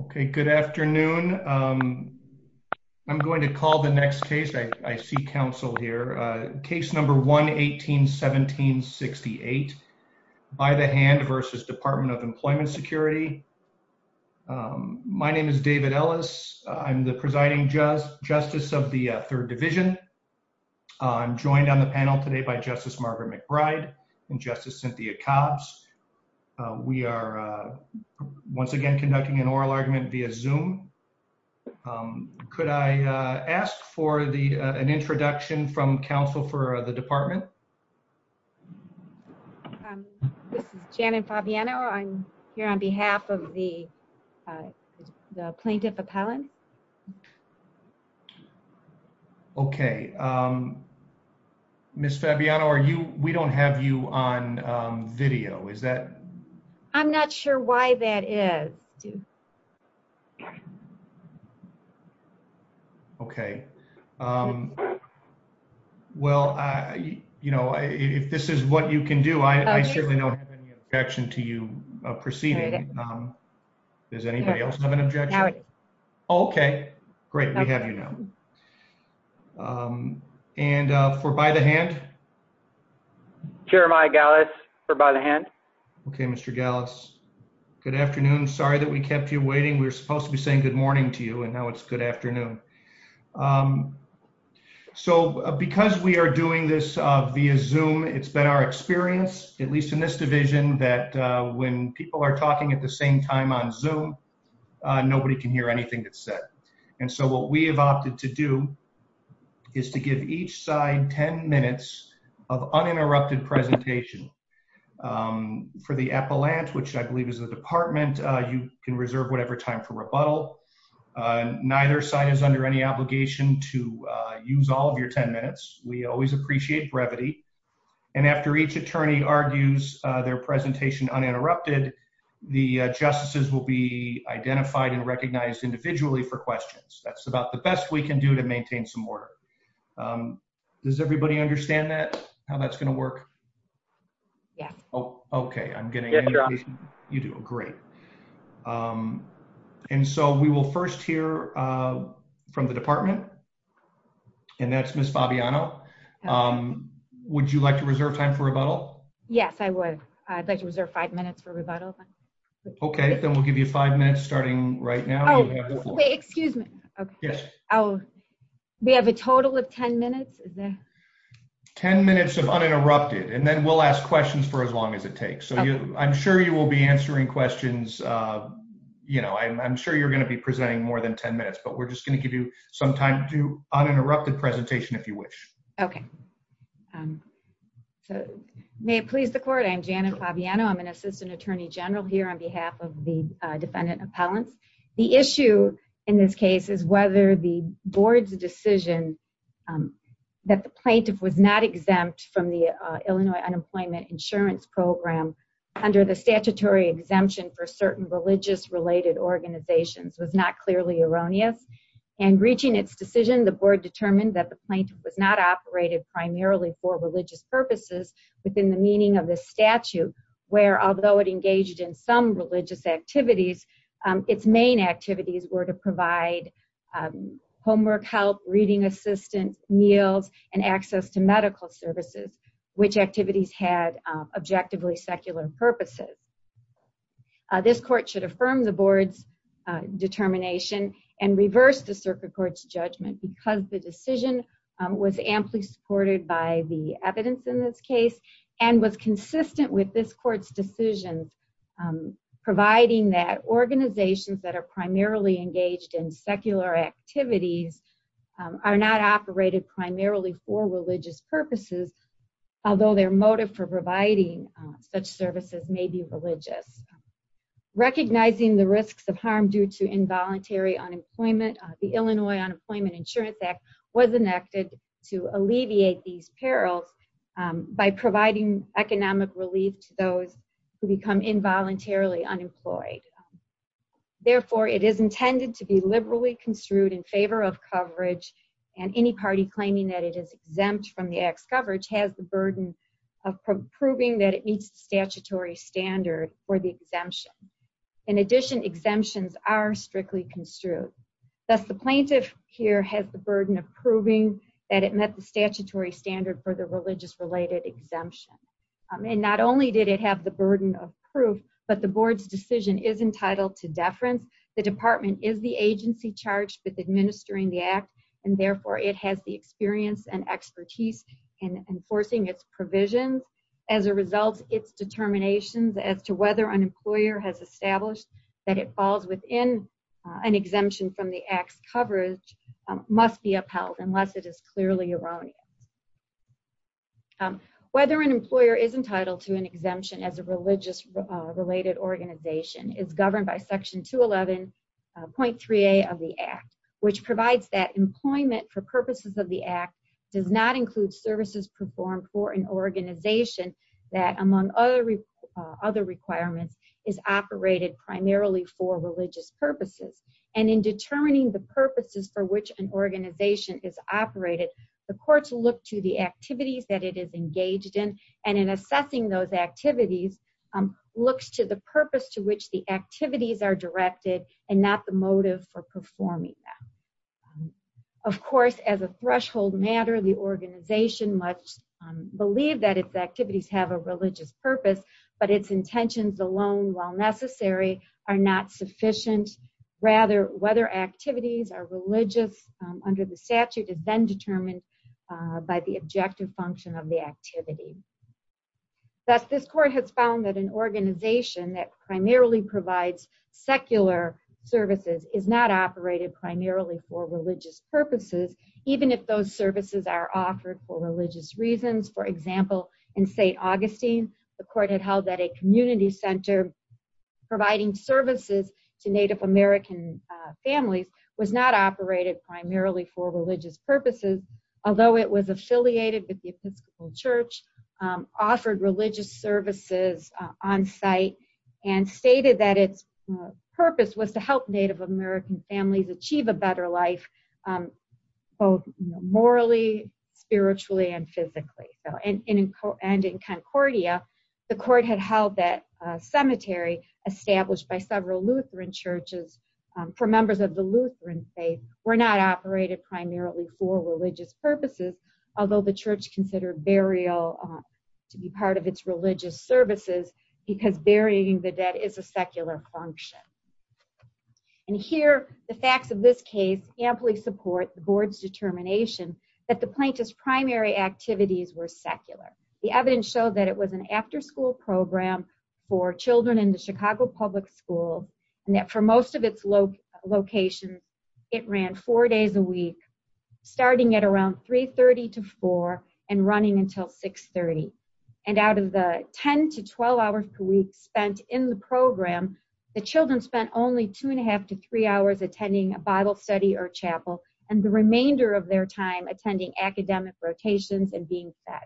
Okay, good afternoon. I'm going to call the next case. I see counsel here. Case number 1-18-1768, by the hand versus Department of Employment Security. My name is David Ellis. I'm the presiding justice of the Third Division. I'm joined on the panel today by Justice Margaret McBride and Justice Cynthia Cobbs. We are once again conducting an oral argument via Zoom. Could I ask for an introduction from counsel for the department? This is Janet Fabiano. I'm here on behalf of the plaintiff appellant. Okay, Ms. Fabiano, we don't have you on video, is that? I'm not sure why that is. Okay, well, you know, if this is what you can do, I certainly don't have any objection to you proceeding. Does anybody else have an objection? Okay, great, we have you now. And for by the hand? Jeremiah Gallus for by the hand. Okay, Mr. Gallus, good afternoon. Sorry that we kept you waiting. We were supposed to be saying good morning to you and now it's good afternoon. So because we are doing this via Zoom, it's been our experience, at least in this division, that when people are talking at the same time on Zoom, nobody can hear anything that's said. And so what we have opted to do is to give each side 10 minutes of uninterrupted presentation. For the appellant, which I believe is the department, you can reserve whatever time for rebuttal. Neither side is under any obligation to use all of your 10 minutes. We always appreciate brevity. And after each attorney argues their presentation uninterrupted, the justices will be identified and recognized individually for questions. That's about the best we can do to maintain some order. Does everybody understand that, how that's going to work? Yeah. Oh, okay, I'm getting it. You do. Great. And so we will first hear from the department. And that's Miss Fabiano. Would you like to reserve time for rebuttal? Yes, I would. I'd like to reserve five minutes for rebuttal. Okay, then we'll give you five minutes starting right now. Excuse me. We have a total of 10 minutes. 10 minutes of uninterrupted and then we'll ask questions for as long as it takes. So I'm sure you will be answering questions. I'm sure you're going to be presenting more than 10 minutes, but we're just going to give you some time to do uninterrupted presentation if you wish. Okay. May it please the court. I'm Janet Fabiano. I'm an assistant attorney general here on behalf of the defendant appellants. The issue in this case is whether the board's decision that the plaintiff was not exempt from the Illinois Unemployment Insurance Program under the statutory exemption for certain religious related organizations was not clearly erroneous. And reaching its decision, the board determined that the plaintiff was not operated primarily for religious purposes within the meaning of this statute, where although it engaged in some religious activities, its main activities were to provide homework help, reading assistance, meals, and access to medical services, which activities had objectively secular purposes. This court should affirm the board's determination and reverse the circuit court's judgment because the decision was amply supported by the evidence in this case and was consistent with this court's decision, providing that organizations that are primarily engaged in secular activities are not operated primarily for religious purposes, although their motive for providing such services may be religious. Recognizing the risks of harm due to involuntary unemployment, the Illinois Unemployment Insurance Act was enacted to alleviate these perils by providing economic relief to those who become involuntarily unemployed. Therefore, it is intended to be liberally construed in favor of coverage and any party claiming that it is exempt from the act's statutory standard for the exemption. In addition, exemptions are strictly construed. Thus, the plaintiff here has the burden of proving that it met the statutory standard for the religious-related exemption. And not only did it have the burden of proof, but the board's decision is entitled to deference. The department is the agency charged with administering the act, and therefore it has the experience and expertise in enforcing its determinations as to whether an employer has established that it falls within an exemption from the act's coverage must be upheld unless it is clearly erroneous. Whether an employer is entitled to an exemption as a religious-related organization is governed by section 211.3a of the act, which provides that employment for purposes of the act does not require that an organization, among other requirements, is operated primarily for religious purposes. And in determining the purposes for which an organization is operated, the courts look to the activities that it is engaged in, and in assessing those activities, looks to the purpose to which the activities are directed and not the motive for performing them. Of course, as a threshold matter, the organization must believe that its activities have a religious purpose, but its intentions alone, while necessary, are not sufficient. Rather, whether activities are religious under the statute is then determined by the objective function of the activity. Thus, this court has found that an organization that primarily provides secular services is not operated primarily for religious purposes, even if those services are offered for religious reasons. For example, in St. Augustine, the court had held that a community center providing services to Native American families was not operated primarily for religious purposes, although it was affiliated with the Episcopal Church, offered religious services on site, and stated that its purpose was to help Native American families achieve a better life, both morally, spiritually, and physically. And in Concordia, the court had held that a cemetery established by several Lutheran churches for members of the Lutheran faith were not operated primarily for religious purposes, although the church considered burial to be part of its religious services because burying the dead is a secular function. And here, the facts of this case amply support the board's determination that the plaintiff's primary activities were secular. The evidence showed that it was an after-school program for children in the Chicago Public School, and that for most of its locations, it ran four days a week, starting at around 3.30 to 4, and running until 6.30. And out of the 10 to 12 hours per week spent in the program, the children spent only two and a half to three hours attending a Bible study or chapel, and the remainder of their time attending academic rotations and being fed.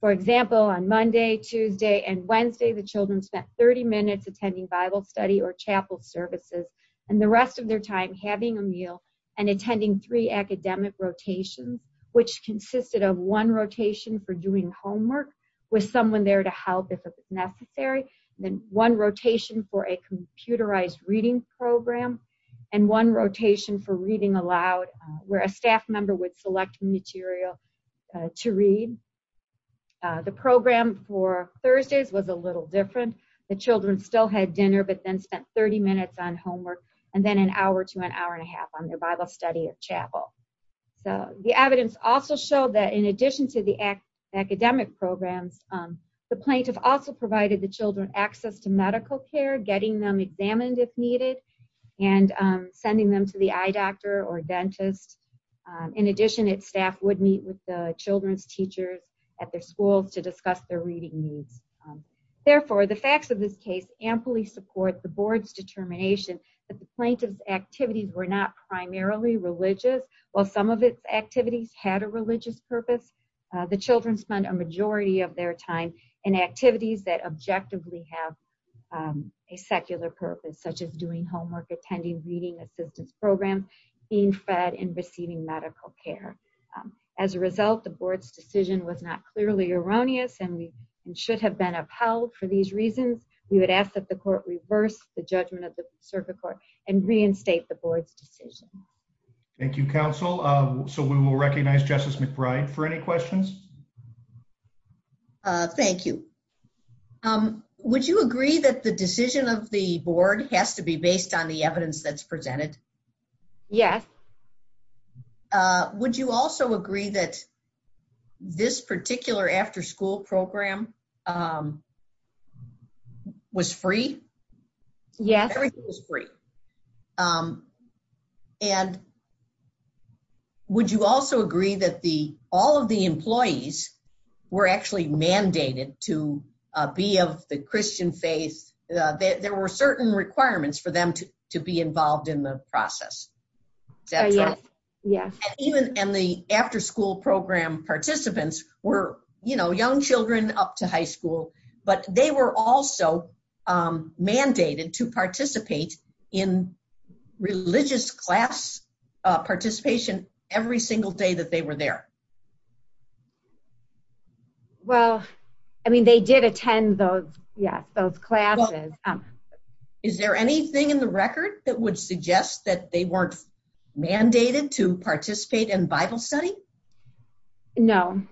For example, on Monday, Tuesday, and Wednesday, the children spent 30 minutes attending Bible study or chapel services, and the rest of their time having a meal and attending three academic rotations, which consisted of one rotation for doing homework with someone there to help if necessary, then one rotation for a computerized reading program, and one rotation for reading aloud, where a staff member would select material to read. The program for Thursdays was a little different. The children still had dinner, but then spent 30 minutes on homework, and then an hour to an hour and a half on their Bible study or chapel. So, the evidence also showed that in addition to the academic programs, the plaintiff also provided the children access to medical care, getting them examined if needed, and sending them to the eye doctor or dentist. In addition, its staff would meet with the children's teachers at their schools to discuss their reading needs. Therefore, the facts of this case amply support the board's determination that the plaintiff's activities were not primarily religious. While some of its activities had a religious purpose, the children spend a majority of their time in activities that objectively have a secular purpose, such as doing As a result, the board's decision was not clearly erroneous, and we should have been upheld for these reasons. We would ask that the court reverse the judgment of the circuit court and reinstate the board's decision. Thank you, counsel. So, we will recognize Justice McBride for any questions. Thank you. Would you agree that the decision of the board has to be based on the evidence that's presented? Yes. Would you also agree that this particular after-school program was free? Yes. Everything was free. And would you also agree that all of the employees were actually mandated to be of the Christian faith? There were certain requirements for them to be involved in the process. Is that true? Yes. And the after-school program participants were, you know, young children up to high school, but they were also mandated to participate in religious class participation every single day that they were there. Well, I mean, they did attend those, yes, those classes. Is there anything in the record that would suggest that they weren't mandated to participate in Bible study? No.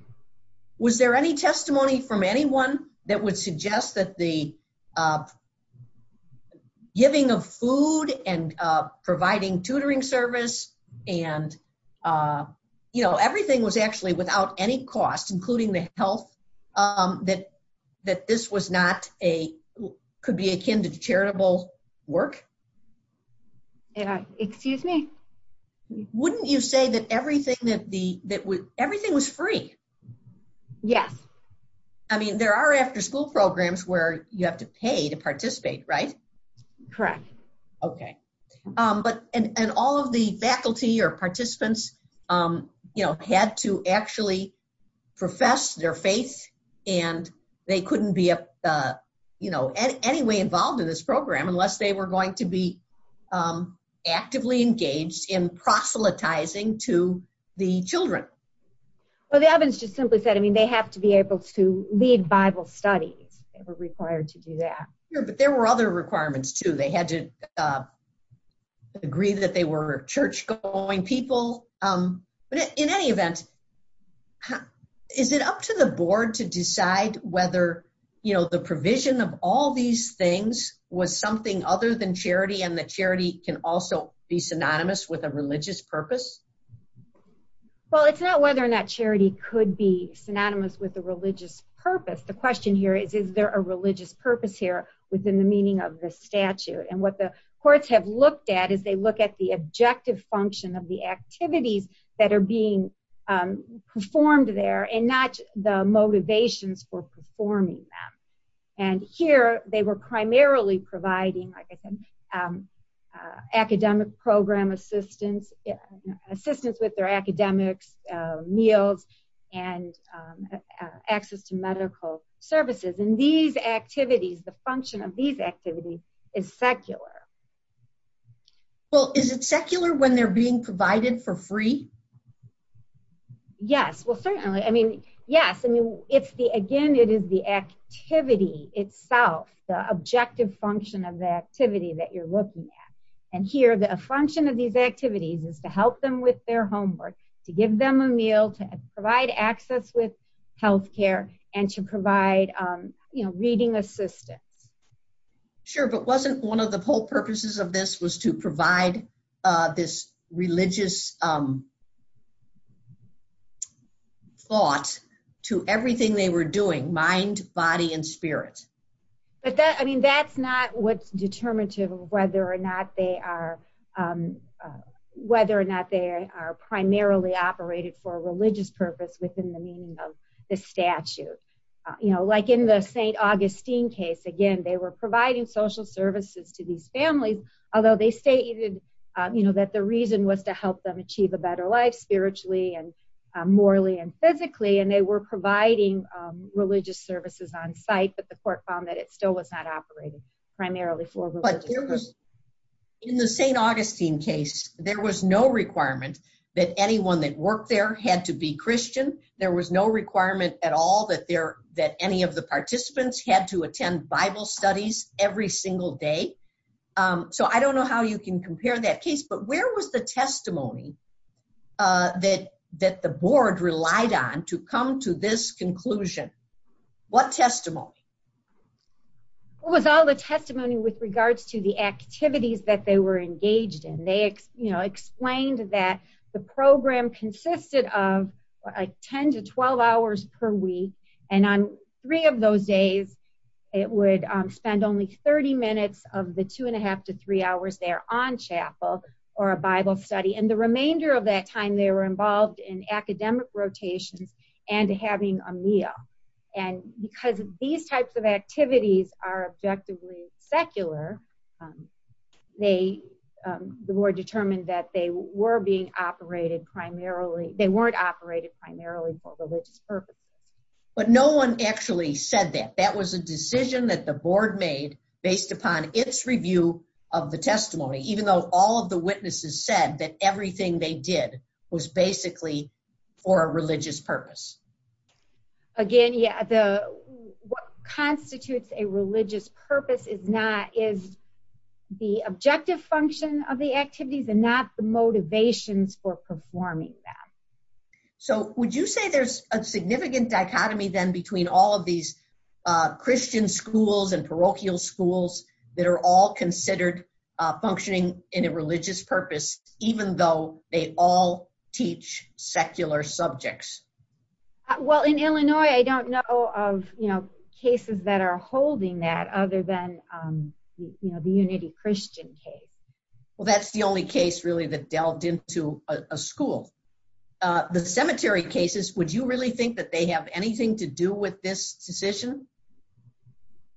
Was there any testimony from anyone that would suggest that the giving of food and providing tutoring service, and, you know, everything was actually without any cost, including the health, that this was not a, could be akin to charitable work? Excuse me? Wouldn't you say that everything was free? Yes. I mean, there are after-school programs where you have to pay to participate, right? Correct. Okay. And all of the faculty or participants, you know, had to actually profess their faith, and they couldn't be, you know, anyway involved in this program unless they were going to be actively engaged in proselytizing to the children. Well, the Evans just simply said, I mean, they have to be able to lead Bible studies. They were required to do that. Sure, but there were other requirements, too. They had to agree that they were church-going people. But in any event, is it up to the board to decide whether, you know, the provision of all these things was something other than charity and that charity can also be synonymous with a religious purpose? Well, it's not whether or not charity could be synonymous with a religious purpose. The question here is, is there a religious purpose here within the meaning of the statute? And what the courts have looked at is they look at the objective function of the activities that are being performed there and not the motivations for performing them. And here, they were primarily providing academic program assistance, assistance with their academics, meals, and access to medical services. And these activities, the function of these activities is secular. Well, is it secular when they're being provided for free? Yes. Well, certainly. I mean, yes. I mean, it's the, again, it is the activity itself, the objective function of the activity that you're looking at. And here, the function of these activities is to help them with their homework, to give them a meal, to provide access with health care, and to provide, you know, reading assistance. Sure, but wasn't one of the purposes of this was to provide this religious thought to everything they were doing, mind, body, and spirit? But that, I mean, that's not what's determinative of whether or not they are, whether or not they are primarily operated for a religious purpose within the meaning of the statute. You know, like in the St. Augustine case, again, they were providing social services to these families, although they stated, you know, that the reason was to help them achieve a better life spiritually, and morally, and physically. And they were providing religious services on site, but the court found that it still was not operated primarily for. In the St. Augustine case, there was no requirement that anyone that worked there had to be Christian. There was no requirement at all that any of the participants had to attend Bible studies every single day. So I don't know how you can compare that case, but where was the testimony that the board relied on to come to this conclusion? What testimony? It was all the testimony with regards to the activities that they were engaged in. They, you know, explained that the program consisted of like 10 to 12 hours per week, and on three of those days, it would spend only 30 minutes of the two and a half to three hours there on chapel, or a Bible study. And the remainder of that time, they were involved in academic rotations and having a meal. And because these types of activities are objectively secular, they, the board determined that they were being operated primarily, they weren't operated primarily for religious purposes. But no one actually said that. That was a decision that the board made based upon its review of the testimony, even though all of the witnesses said that everything they did was basically for a religious purpose. Again, yeah, the, what constitutes a religious purpose is not, is the objective function of the activities and not the motivations for performing that. So would you say there's a significant dichotomy then between all of these Christian schools and parochial schools that are all considered functioning in a religious purpose, even though they all teach secular subjects? Well, in Illinois, I don't know of, you know, cases that are holding that other than, you know, the Unity Christian case. Well, that's the only case really that delved into a school. The cemetery cases, would you really think that they have anything to do with this decision?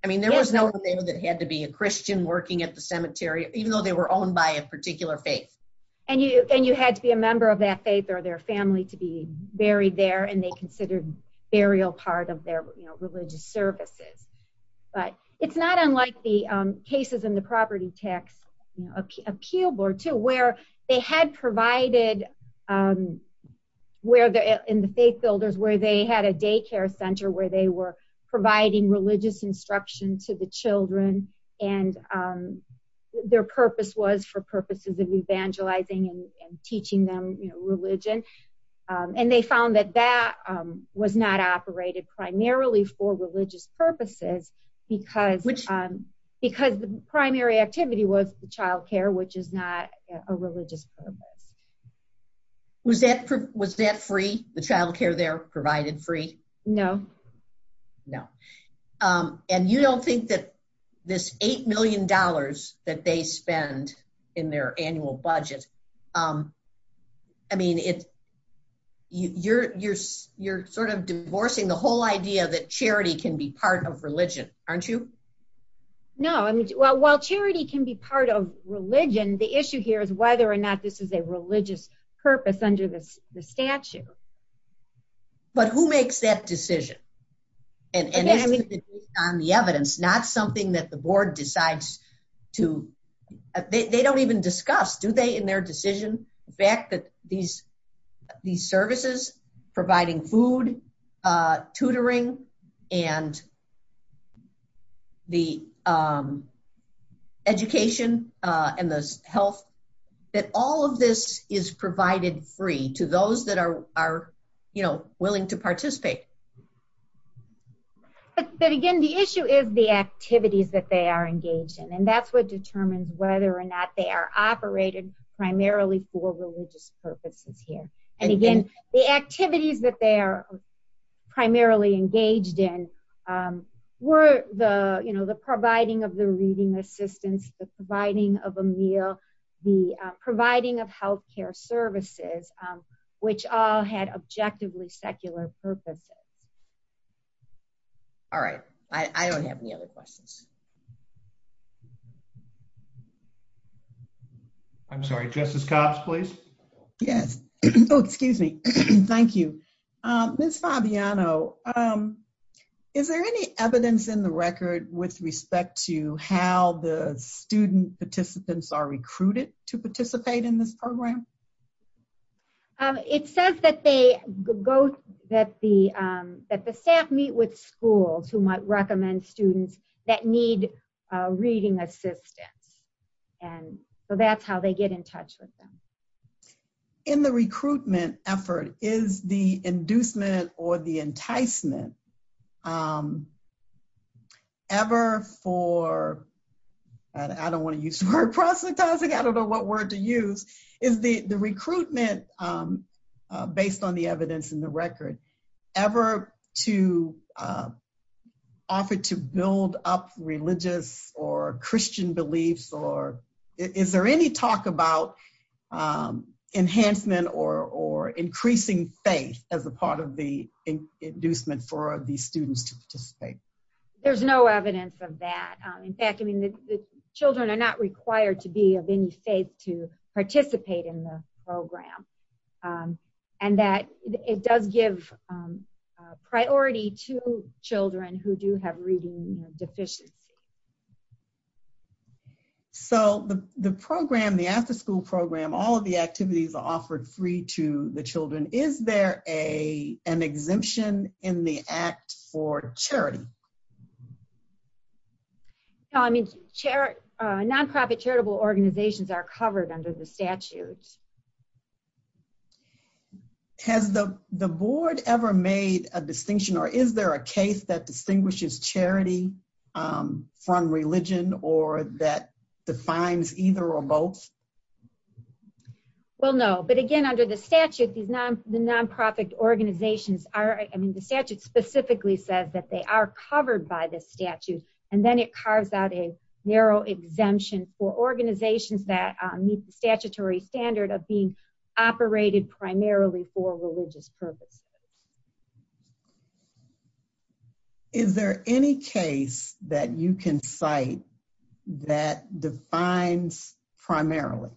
I mean, there was no one there that had to be a Christian working at the cemetery, even though they were owned by a particular faith. And you had to be a member of that faith or their family to be buried there, and they considered burial part of their, you know, religious services. But it's not unlike the cases in the property tax appeal board too, where they had provided, where they're in the faith builders, where they had a daycare center, where they were providing religious instruction to the children. And their purpose was for purposes of evangelizing and teaching them, you know, religion. And they found that that was not operated primarily for religious purposes, because the primary activity was child care, which is not a religious purpose. Was that free? The child care there provided free? No. No. And you don't think that this $8 million that they spend in their annual budget, I mean, you're sort of divorcing the whole idea that charity can be part of religion, aren't you? No, I mean, well, while charity can be part of religion, the issue here is whether or not this is a religious purpose under this statute. But who makes that decision? And on the evidence, not something that the board decides to, they don't even discuss, do they, in their decision, the fact that these services, providing food, tutoring, and the education and the health, that all of this is provided free to those that are, you know, willing to participate? But again, the issue is the activities that they are engaged in. And that's what determines whether or not they are operated primarily for religious purposes here. And again, the activities that they are primarily engaged in were the, you know, the providing of the reading assistance, the providing of a meal, the providing of health care services, which all had objectively secular purposes. All right. I don't have any other questions. I'm sorry, Justice Cox, please. Yes. Oh, excuse me. Thank you. Ms. Fabiano, is there any evidence in the record with respect to how the student participants are recruited to participate in this program? It says that the staff meet with schools who might recommend students that need reading assistance. And so that's how they get in touch with them. In the recruitment effort, is the inducement or the enticement ever for, I don't want to use the word proselytizing, I don't know what word to use, is the recruitment, based on the evidence in the record, ever to offer to build up religious or Christian beliefs? Or is there any talk about enhancement or increasing faith as a part of the inducement for the students to participate? There's no evidence of that. In fact, I mean, the children are not required to be of any faith to participate in the program. And that it does give priority to children who do have reading deficiency. So the program, the after school program, all of the activities are offered free to the children. Is there an exemption in the act for charity? No, I mean, non-profit charitable organizations are covered under the statutes. Has the board ever made a distinction or is there a case that distinguishes charity from religion or that defines either or both? Well, no. But again, under the statute, the non-profit organizations are, I mean, the statute specifically says that they are covered by this statute. And then it carves out a narrow exemption for organizations that meet the statutory standard of being operated primarily for religious purposes. Is there any case that you can cite that defines primarily?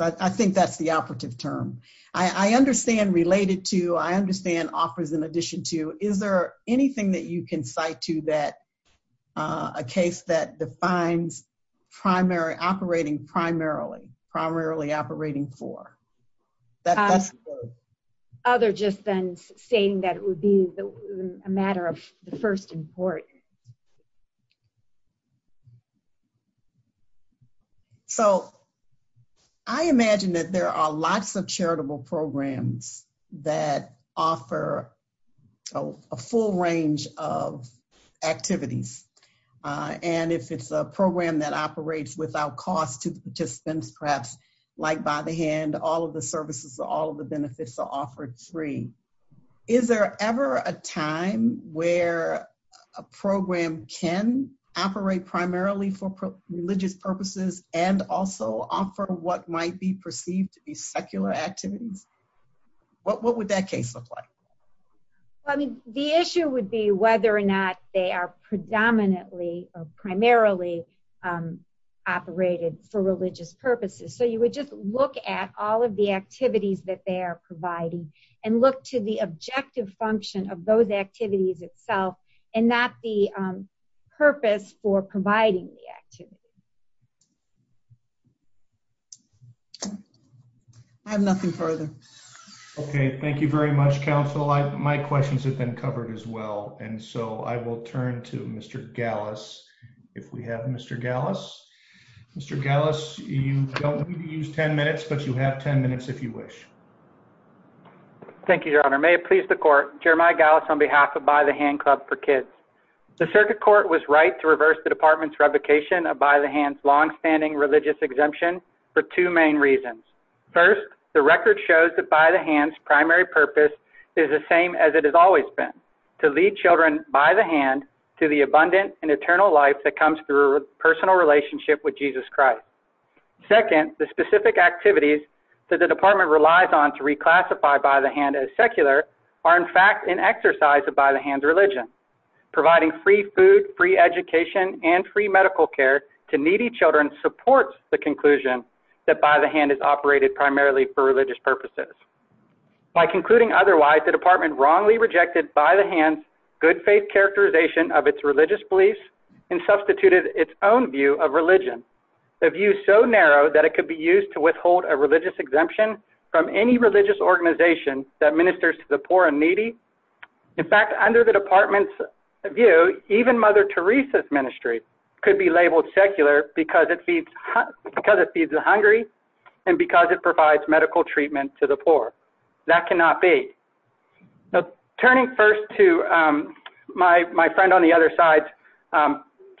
I think that's the operative term. I understand related to, I understand offers in addition to, is there anything that you can cite to that a case that defines operating primarily, primarily operating for? Other just than saying that it would be a matter of the first import. So I imagine that there are lots of charitable programs that offer a full range of activities. And if it's a program that operates without cost to the participants, perhaps like by the hand, all of the services, all of the benefits are offered free. Is there ever a time where a program can operate primarily for religious purposes and also offer what might be perceived to be secular activities? What would that case look like? Well, I mean, the issue would be whether or not they are predominantly or primarily operated for religious purposes. So you would just look at all of the activities that they are providing and look to the objective function of those activities itself and not the purpose for providing the activity. I have nothing further. Okay. Thank you very much, counsel. My questions have been covered as well. And so I will turn to Mr. Gallus if we have Mr. Gallus. Mr. Gallus, you don't need to use 10 minutes if you wish. Thank you, Your Honor. May it please the court. Jeremiah Gallus on behalf of By the Hand Club for Kids. The circuit court was right to reverse the department's revocation of By the Hand's longstanding religious exemption for two main reasons. First, the record shows that By the Hand's primary purpose is the same as it has always been, to lead children by the hand to the abundant and eternal life that comes through a personal relationship with Jesus Christ. Second, the specific activities that the department relies on to reclassify By the Hand as secular are in fact an exercise of By the Hand's religion. Providing free food, free education, and free medical care to needy children supports the conclusion that By the Hand is operated primarily for religious purposes. By concluding otherwise, the department wrongly rejected By the Hand's good faith characterization of its religious beliefs and substituted its own of religion, a view so narrow that it could be used to withhold a religious exemption from any religious organization that ministers to the poor and needy. In fact, under the department's view, even Mother Teresa's ministry could be labeled secular because it feeds the hungry and because it provides medical treatment to the poor. That cannot be. Turning first to my friend on the other side's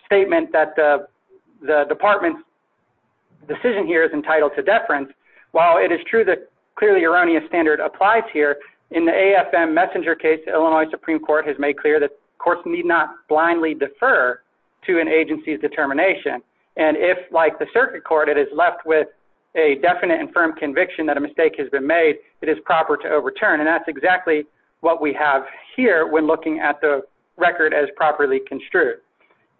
statement that the department's decision here is entitled to deference. While it is true that clearly erroneous standard applies here, in the AFM messenger case, Illinois Supreme Court has made clear that courts need not blindly defer to an agency's determination. And if, like the circuit court, it is left with a definite and firm conviction that a mistake has been made, it is proper to overturn. And that's exactly what we have here when looking at the record as properly construed.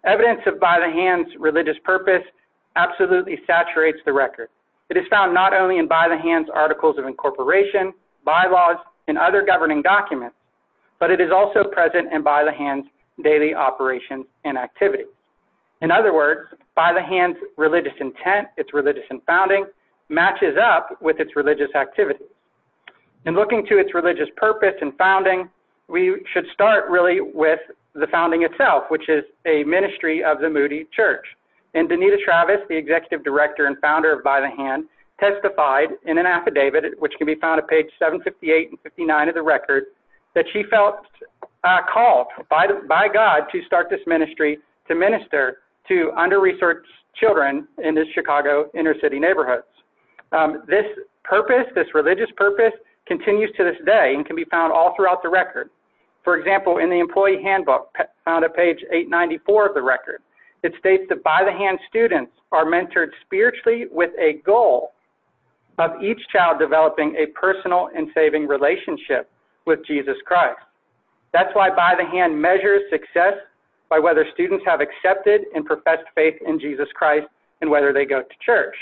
Evidence of By the Hand's religious purpose absolutely saturates the record. It is found not only in By the Hand's articles of incorporation, bylaws, and other governing documents, but it is also present in By the Hand's daily operation and activity. In other words, By the Hand's religious intent, its religious and founding, matches up with its religious activity. In looking to its religious purpose and founding, we should start really with the founding itself, which is a ministry of the Moody Church. And Danita Travis, the executive director and founder of By the Hand, testified in an affidavit, which can be found at page 758 and 759 of the record, that she felt called by God to start this ministry to minister to under-resourced children in the Chicago inner-city neighborhoods. This purpose, this religious purpose, continues to this day and can be found all throughout the record. For example, in the employee handbook, found at page 894 of the record, it states that By the Hand students are mentored spiritually with a goal of each child developing a personal and saving relationship with Jesus Christ. That's why By the Hand measures success by whether students have accepted and professed faith in Jesus Christ and whether they go to church.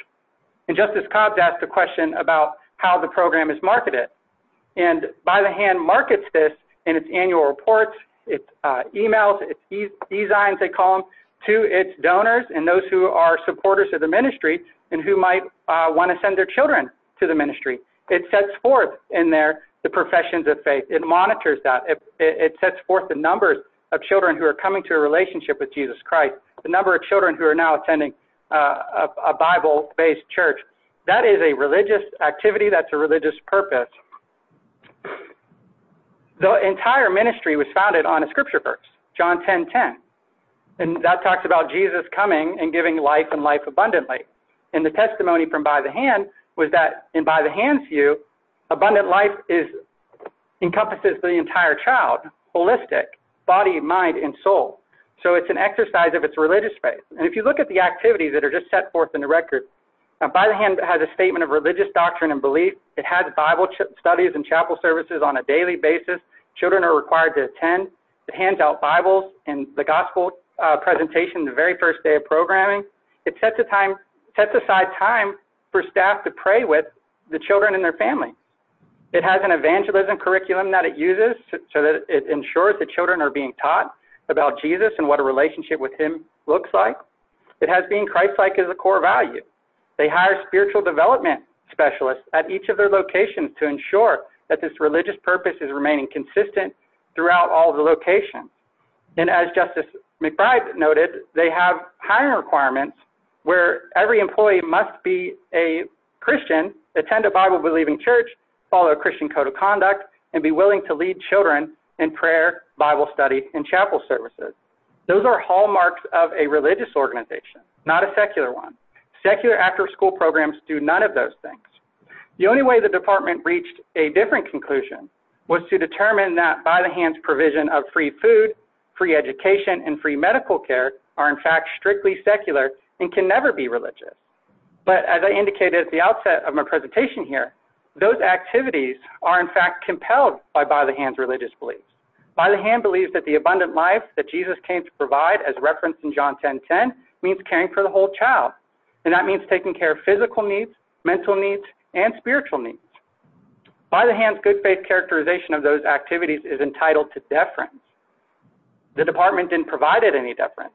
Justice Cobb asked a question about how the program is marketed. And By the Hand markets this in its annual reports, its emails, its e-signs, they call them, to its donors and those who are supporters of the ministry and who might want to send their children to the ministry. It sets forth in there the professions of faith. It monitors that. It sets forth the numbers of children who are coming to a relationship with Jesus Christ, the number of children who are now going to a faith-based church. That is a religious activity. That's a religious purpose. The entire ministry was founded on a scripture verse, John 10.10. And that talks about Jesus coming and giving life and life abundantly. And the testimony from By the Hand was that, in By the Hand's view, abundant life encompasses the entire child, holistic, body, mind, and soul. So it's an exercise of its religious faith. And if you look at the activities that are just set forth in the record, By the Hand has a statement of religious doctrine and belief. It has Bible studies and chapel services on a daily basis. Children are required to attend. It hands out Bibles and the gospel presentation the very first day of programming. It sets aside time for staff to pray with the children and their family. It has an evangelism curriculum that it uses so that it ensures that children are being taught about Jesus and what a relationship with him looks like. It has being Christ-like as a core value. They hire spiritual development specialists at each of their locations to ensure that this religious purpose is remaining consistent throughout all the locations. And as Justice McBride noted, they have hiring requirements where every employee must be a Christian, attend a Bible-believing church, follow a Christian code of conduct, and be willing to lead children in prayer, Bible study, and chapel services. Those are hallmarks of a religious organization, not a secular one. Secular after-school programs do none of those things. The only way the department reached a different conclusion was to determine that By the Hand's provision of free food, free education, and free medical care are in fact strictly secular and can never be religious. But as I indicated at the outset of my presentation here, those activities are in fact compelled by By the Hand's religious beliefs. By the Hand believes that the abundant life that Jesus came to provide as referenced in John 10.10 means caring for the whole child, and that means taking care of physical needs, mental needs, and spiritual needs. By the Hand's good faith characterization of those activities is entitled to deference. The department didn't provide it any deference,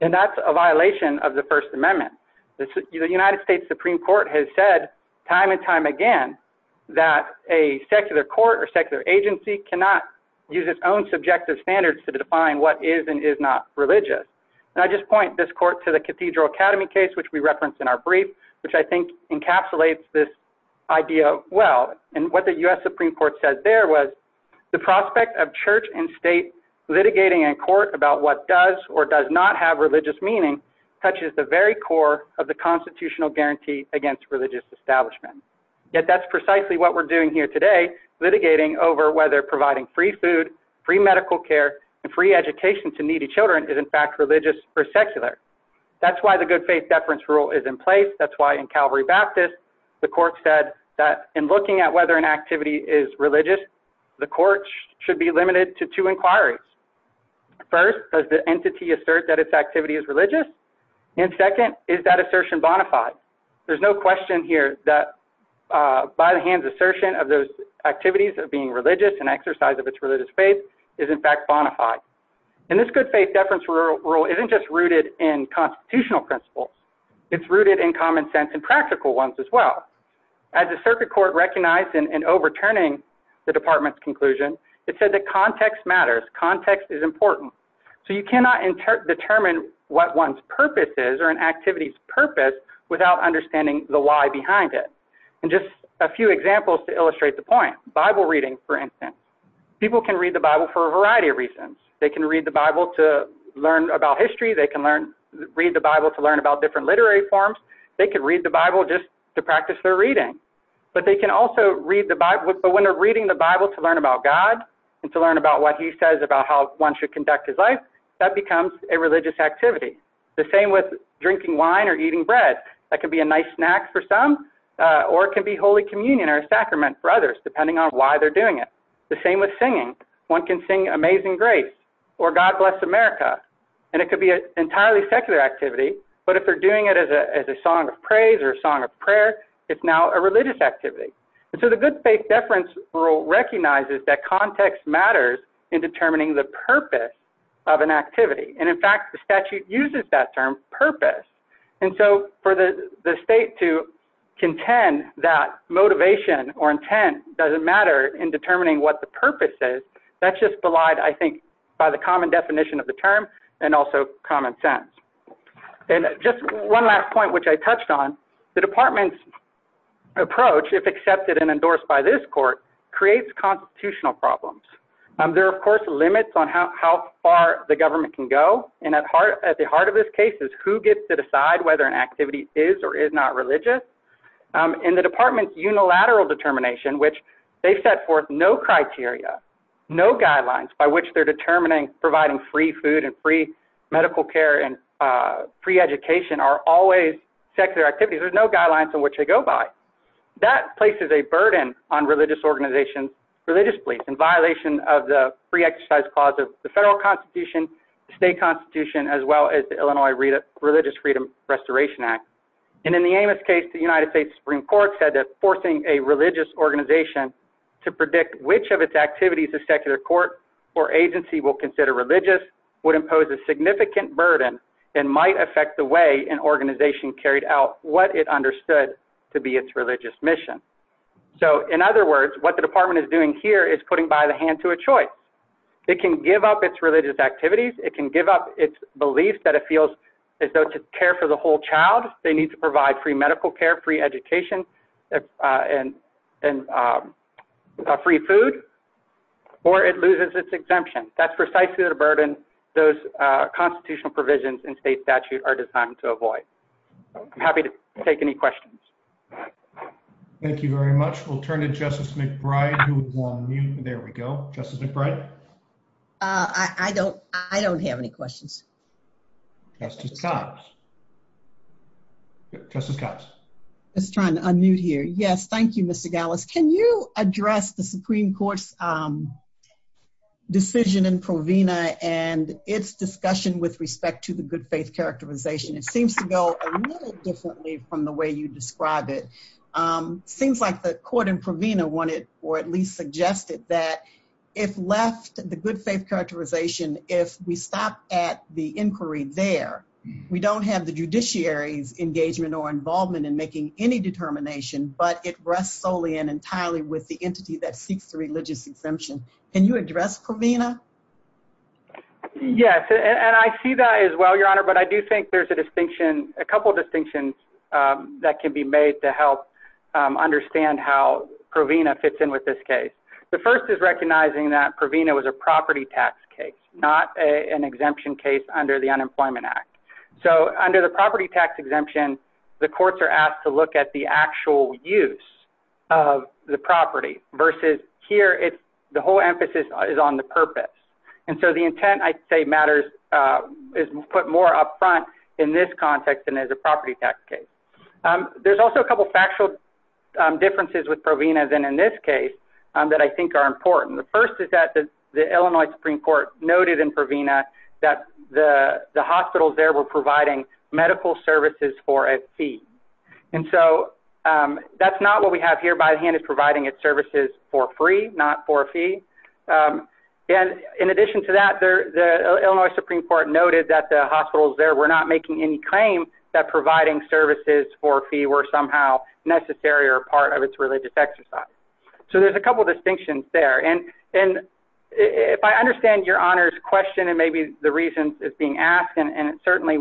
and that's a violation of the First Amendment. The United States Supreme Court has said time and time again that a secular court or standard should define what is and is not religious. And I just point this court to the Cathedral Academy case, which we referenced in our brief, which I think encapsulates this idea well. And what the U.S. Supreme Court says there was the prospect of church and state litigating in court about what does or does not have religious meaning touches the very core of the constitutional guarantee against religious establishment. Yet that's precisely what we're doing here today, litigating over whether providing free food, free medical care, and free education to needy children is in fact religious or secular. That's why the good faith deference rule is in place. That's why in Calvary Baptist, the court said that in looking at whether an activity is religious, the court should be limited to two inquiries. First, does the entity assert that its activity is religious? And second, is that assertion bona fide? There's no question here that by the hands assertion of those activities of being religious and exercise of its religious faith is in fact bona fide. And this good faith deference rule isn't just rooted in constitutional principles. It's rooted in common sense and practical ones as well. As the circuit court recognized in overturning the department's conclusion, it said that context matters, context is important. So you cannot determine what one's purpose is or an activity's purpose without understanding the why behind it. And just a few examples to illustrate the point. Bible reading, for instance. People can read the Bible for a variety of reasons. They can read the Bible to learn about history. They can read the Bible to learn about different literary forms. They could read the Bible just to practice their reading. But when they're reading the Bible to learn about God and to learn about what he says about how one should conduct his life, that becomes a religious activity. The same with drinking wine or eating bread. That can be a nice snack for some or it can be Holy Communion or a sacrament for others, depending on why they're doing it. The same with singing. One can sing Amazing Grace or God Bless America and it could be an entirely secular activity. But if they're doing it as a song of praise or a song of prayer, it's now a religious activity. And so the good faith deference rule recognizes that context matters in determining the purpose of an activity. And in fact, the statute uses that term purpose. And so for the state to contend that motivation or intent doesn't matter in determining what the purpose is, that's just belied, I think, by the common definition of the term and also common sense. And just one last point, which I touched on. The department's approach, if accepted and there are of course limits on how far the government can go. And at the heart of this case is who gets to decide whether an activity is or is not religious. In the department's unilateral determination, which they've set forth no criteria, no guidelines by which they're determining providing free food and free medical care and free education are always secular activities. There's no guidelines on which they go by. That places a burden on religious organizations, religious beliefs, in violation of the free exercise clause of the federal constitution, state constitution, as well as the Illinois Religious Freedom Restoration Act. And in the Amos case, the United States Supreme Court said that forcing a religious organization to predict which of its activities a secular court or agency will consider religious would impose a significant burden and might affect the way an organization carried out what it understood to be its religious mission. So in other words, what the department is doing here is putting by the hand to a choice. It can give up its religious activities. It can give up its beliefs that it feels as though to care for the whole child, they need to provide free medical care, free education, and free food, or it loses its exemption. That's precisely the burden those constitutional provisions in state statute are designed to avoid. I'm happy to take any questions. Thank you very much. We'll turn to Justice McBride who is on mute. There we go. Justice McBride. I don't have any questions. Justice Cox. Justice Cox. Just trying to unmute here. Yes, thank you, Mr. Gallus. Can you address the Supreme Court's decision in Provena and its discussion with respect to the good faith characterization? It seems to go a little differently from the way you describe it. Seems like the court in Provena wanted or at least suggested that if left the good faith characterization, if we stop at the inquiry there, we don't have the judiciary's engagement or involvement in making any determination, but it rests solely and entirely with the entity that seeks the religious exemption. Can you address Provena? Yes, and I see that as well, Your Honor, but I do think there's a distinction, a couple of distinctions that can be made to help understand how Provena fits in with this case. The first is recognizing that Provena was a property tax case, not an exemption case under the Unemployment Act. So under the property tax exemption, the courts are asked to look at the actual use of the property versus here, the whole emphasis is on the purpose. And so the intent, I'd say matters, is put more up front in this context than as a property tax case. There's also a couple of factual differences with Provena than in this case that I think are important. The first is that the Illinois Supreme Court noted in Provena that the hospitals there were providing medical services for a fee. And so that's not what we And in addition to that, the Illinois Supreme Court noted that the hospitals there were not making any claim that providing services for a fee were somehow necessary or part of its religious exercise. So there's a couple of distinctions there. And if I understand Your Honor's question, and maybe the reasons it's being asked, and certainly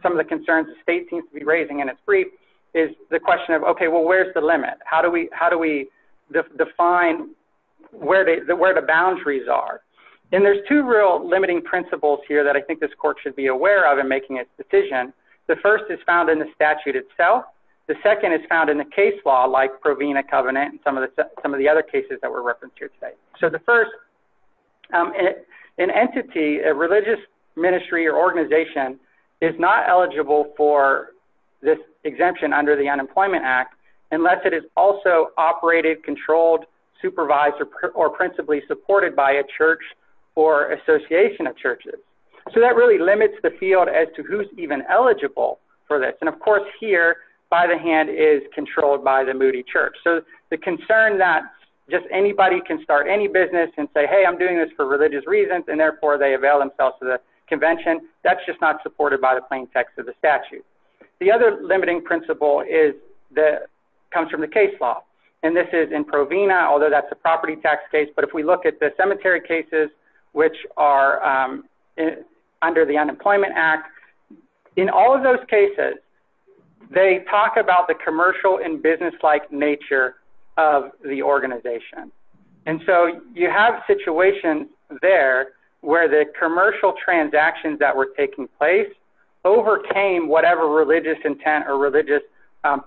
some of the concerns the state seems to be raising in its brief, is the question of, okay, well, where's the limit? How do we define where the boundaries are? And there's two real limiting principles here that I think this court should be aware of in making a decision. The first is found in the statute itself. The second is found in the case law like Provena Covenant and some of the other cases that were referenced here today. So the first, an entity, a religious ministry or organization is not eligible for this exemption under the Unemployment Act, unless it is also operated, controlled, supervised, or principally supported by a church or association of churches. So that really limits the field as to who's even eligible for this. And of course here, by the hand, is controlled by the Moody Church. So the concern that just anybody can start any business and say, hey, I'm doing this for religious reasons, and therefore they avail themselves to the convention, that's just not supported by the plain text of the statute. The other limiting principle comes from the case law. And this is in Provena, although that's a property tax case. But if we look at the cemetery cases, which are under the Unemployment Act, in all of those cases, they talk about the commercial and business-like nature of the organization. And so you have situations there where the commercial transactions that were taking place overcame whatever religious intent or religious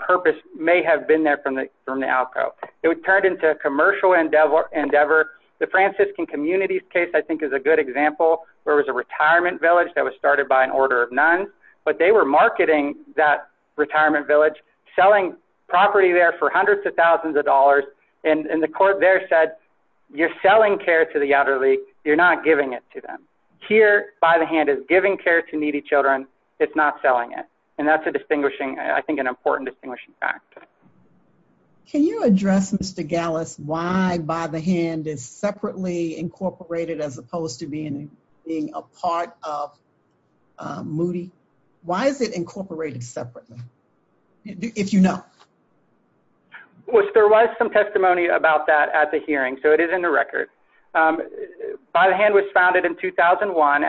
purpose may have been there from the alcove. It would turn into a commercial endeavor. The Franciscan Communities case, I think, is a good example. There was a retirement village that was started by an order of nuns, but they were marketing that retirement village, selling property there for hundreds of thousands of dollars. And the court there said, you're selling care to the giving care to needy children. It's not selling it. And that's a distinguishing, I think, an important distinguishing fact. Can you address, Mr. Gallus, why By the Hand is separately incorporated as opposed to being a part of Moody? Why is it incorporated separately, if you know? Well, there was some testimony about that at the hearing, so it is in the record. By the Hand was founded in 2001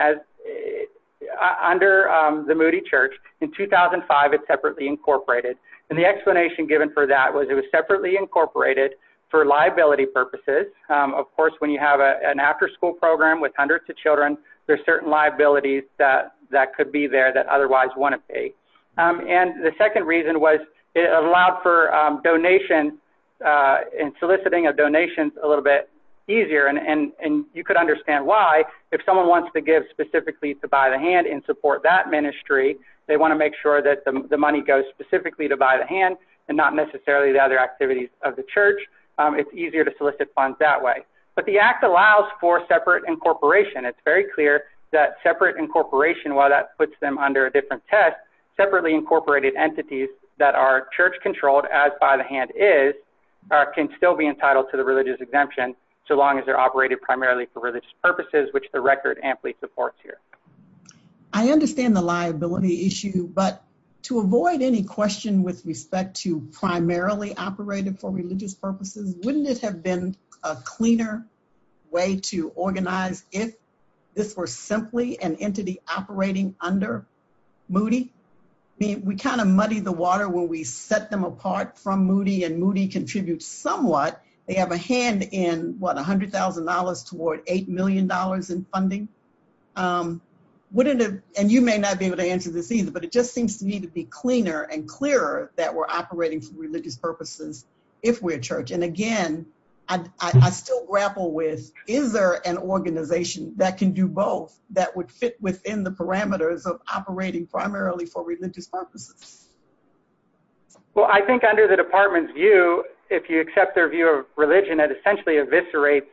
under the Moody Church. In 2005, it's separately incorporated. And the explanation given for that was it was separately incorporated for liability purposes. Of course, when you have an after-school program with hundreds of children, there's certain liabilities that could be there that otherwise wouldn't pay. And the second reason was it allowed for donation and soliciting of donations a little bit easier. And you could understand why. If someone wants to give specifically to By the Hand in support that ministry, they want to make sure that the money goes specifically to By the Hand and not necessarily the other activities of the church. It's easier to solicit funds that way. But the Act allows for separate incorporation. It's very clear that separate incorporation, while that puts them under a different test, separately incorporated entities that are church-controlled, as By the Hand is, can still be entitled to the religious exemption, so long as they're operated primarily for religious purposes, which the record amply supports here. I understand the liability issue, but to avoid any question with respect to primarily operated for religious purposes, wouldn't it have been a cleaner way to organize if this were simply an entity operating under Moody? I mean, we kind of muddy the water when we set them apart from Moody, and Moody contributes somewhat. They have a hand in, what, $100,000 toward $8 million in funding. And you may not be able to answer this either, but it just seems to me to be cleaner and clearer that we're operating for religious purposes if we're a church. And again, I still grapple with, is there an organization that can do both that would fit within the parameters of operating primarily for religious purposes? Well, I think under the department's view, if you accept their view of religion, it essentially eviscerates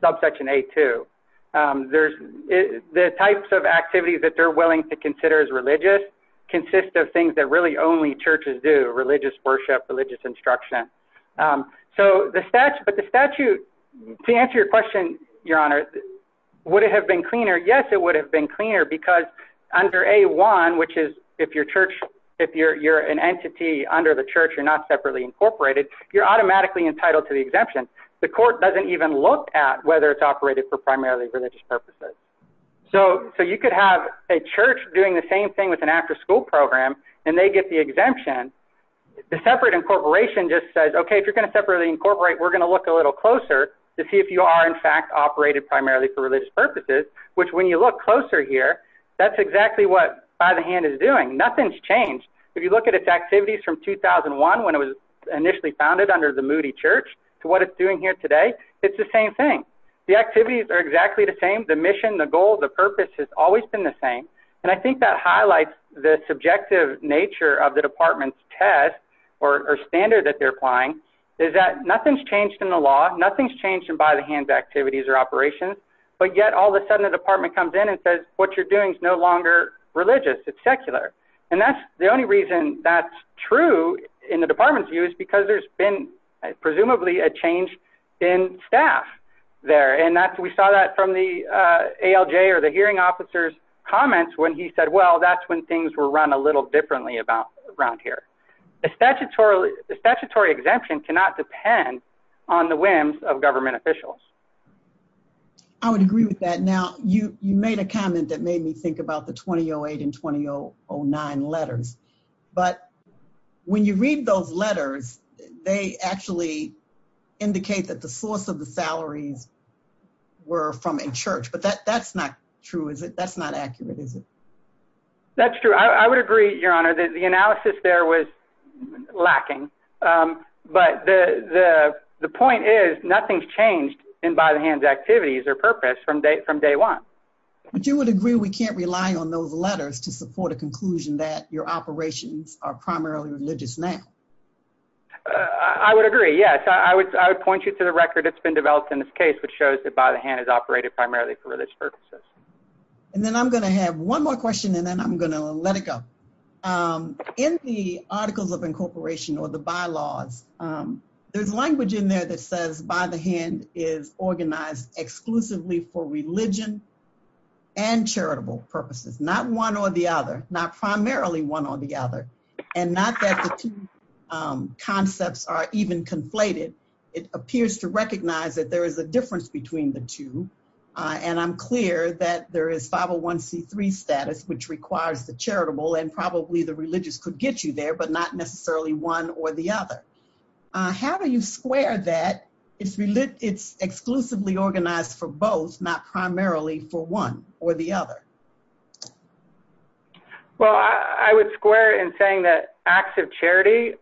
subsection A2. The types of activities that they're willing to consider as religious consist of things that really only churches do, religious worship, religious instruction. But the statute, to answer your question, Your Honor, would it have been cleaner? Yes, it would have been cleaner because under A1, which is if you're an entity under the church, you're not separately incorporated, you're automatically entitled to the exemption. The court doesn't even look at whether it's operated for primarily religious purposes. So you could have a church doing the same thing with an afterschool program, and they get the exemption. The separate incorporation just says, okay, if you're going to separately incorporate, we're going to look a little closer to see if you are in fact operated primarily for religious purposes, which when you look closer here, that's exactly what By the Hand is doing. Nothing's changed. If you look at its activities from 2001, when it was initially founded under the Moody Church, to what it's doing here today, it's the same thing. The activities are exactly the same. The mission, the goal, the purpose has always been the same. I think that highlights the subjective nature of the department's test or standard that they're applying is that nothing's changed in the law, nothing's changed in By the Hand's activities or operations, but yet all of a sudden the department comes in and says what you're doing is no longer religious, it's secular. That's the only reason that's true in the department's view is because there's been presumably a change in staff there. We saw that from the ALJ or the ALJ. That's when he said, well, that's when things were run a little differently around here. The statutory exemption cannot depend on the whims of government officials. I would agree with that. Now, you made a comment that made me think about the 2008 and 2009 letters, but when you read those letters, they actually indicate that the source of the salaries were from a church, but that's not true, is it? That's not accurate, is it? That's true. I would agree, Your Honor, that the analysis there was lacking, but the point is nothing's changed in By the Hand's activities or purpose from day one. But you would agree we can't rely on those letters to support a conclusion that your operations are primarily religious now? I would agree, yes. I would point you to the record that's been in this case, which shows that By the Hand is operated primarily for religious purposes. And then I'm going to have one more question, and then I'm going to let it go. In the Articles of Incorporation or the bylaws, there's language in there that says By the Hand is organized exclusively for religion and charitable purposes, not one or the other, not primarily one or the other, and not that the two concepts are even conflated. It appears to me that there is a difference between the two, and I'm clear that there is 501c3 status, which requires the charitable, and probably the religious could get you there, but not necessarily one or the other. How do you square that? It's exclusively organized for both, not primarily for one or the other? Well, I would square in saying that acts of charity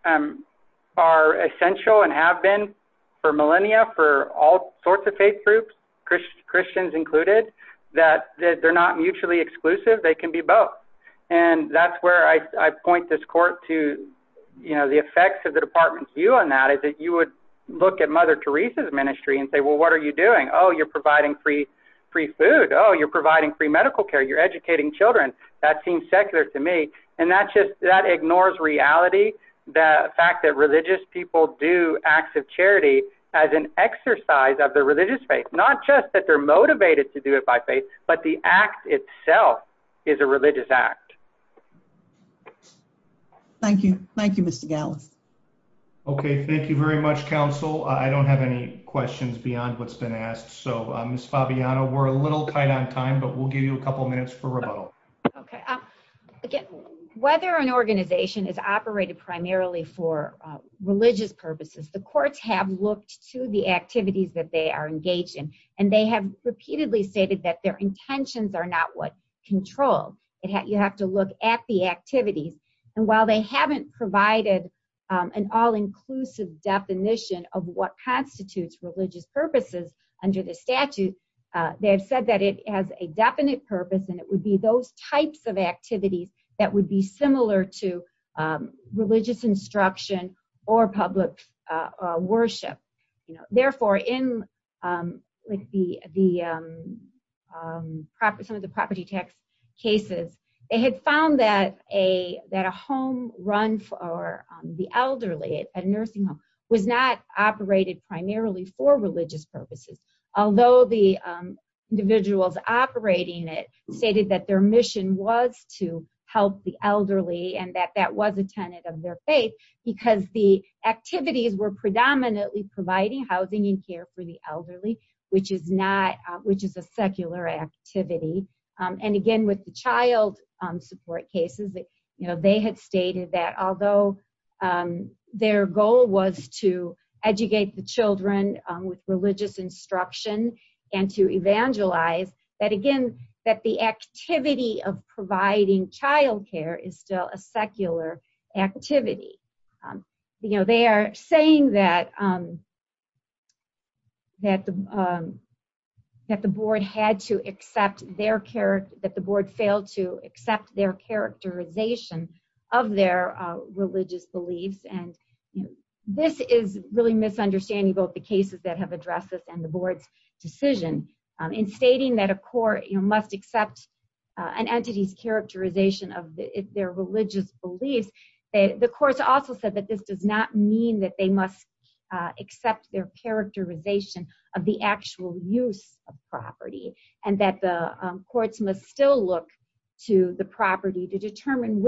are essential and have been for millennia, for all sorts of faith groups, Christians included, that they're not mutually exclusive, they can be both. And that's where I point this court to the effects of the department's view on that, is that you would look at Mother Teresa's ministry and say, well, what are you doing? Oh, you're providing free food. Oh, you're providing free medical care. You're educating children. That seems secular to me. And that ignores reality, the fact that religious people do acts of charity as an exercise of their religious faith, not just that they're motivated to do it by faith, but the act itself is a religious act. Thank you. Thank you, Mr. Gallus. Okay, thank you very much, counsel. I don't have any questions beyond what's been asked, so Ms. Fabiano, we're a little tight on time, but we'll give you a couple minutes for rebuttal. Okay. Again, whether an organization is operated primarily for religious purposes, the courts have looked to the activities that they are engaged in, and they have repeatedly stated that their intentions are not what control. You have to look at the activities. And while they haven't provided an all-inclusive definition of what constitutes religious purposes under the Act, they have not provided a definition of the types of activities that would be similar to religious instruction or public worship. Therefore, in some of the property tax cases, they had found that a home run for the elderly, a nursing home, was not operated primarily for the elderly, and that that was a tenet of their faith, because the activities were predominantly providing housing and care for the elderly, which is a secular activity. And again, with the child support cases, they had stated that although their goal was to educate the children with child support, providing child care is still a secular activity. They are saying that the board failed to accept their characterization of their religious beliefs, and this is really misunderstanding both the cases that have addressed this and the board's decision in court. The court also said that this does not mean that they must accept their characterization of the actual use of property, and that the courts must still look to the property to determine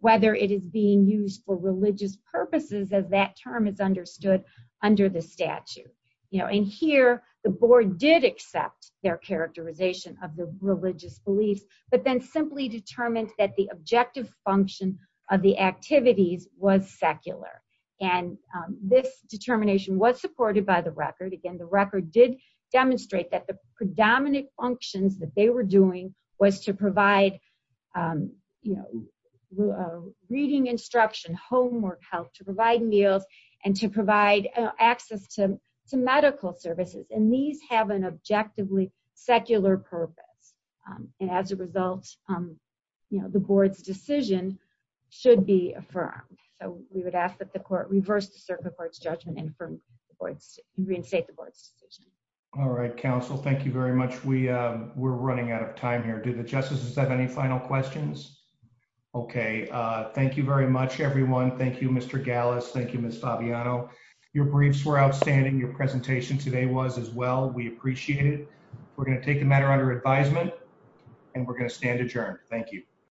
whether it is being used for religious purposes as that term is understood under the statute. And here, the board did accept their characterization of the religious beliefs, but then simply determined that the objective function of the activities was secular. And this determination was supported by the record. Again, the record did demonstrate that the predominant functions that they were doing was to provide reading instruction, homework, health, to provide meals, and to provide access to medical services. And these have an objectively secular purpose. And as a result, the board's decision should be affirmed. So we would ask that the court reverse the circuit court's judgment and reinstate the board's decision. All right, counsel. Thank you very much. We're running out of time here. Do the Thank you, Mr. Gallus. Thank you, Ms. Fabiano. Your briefs were outstanding. Your presentation today was as well. We appreciate it. We're going to take the matter under advisement, and we're going to stand adjourned. Thank you.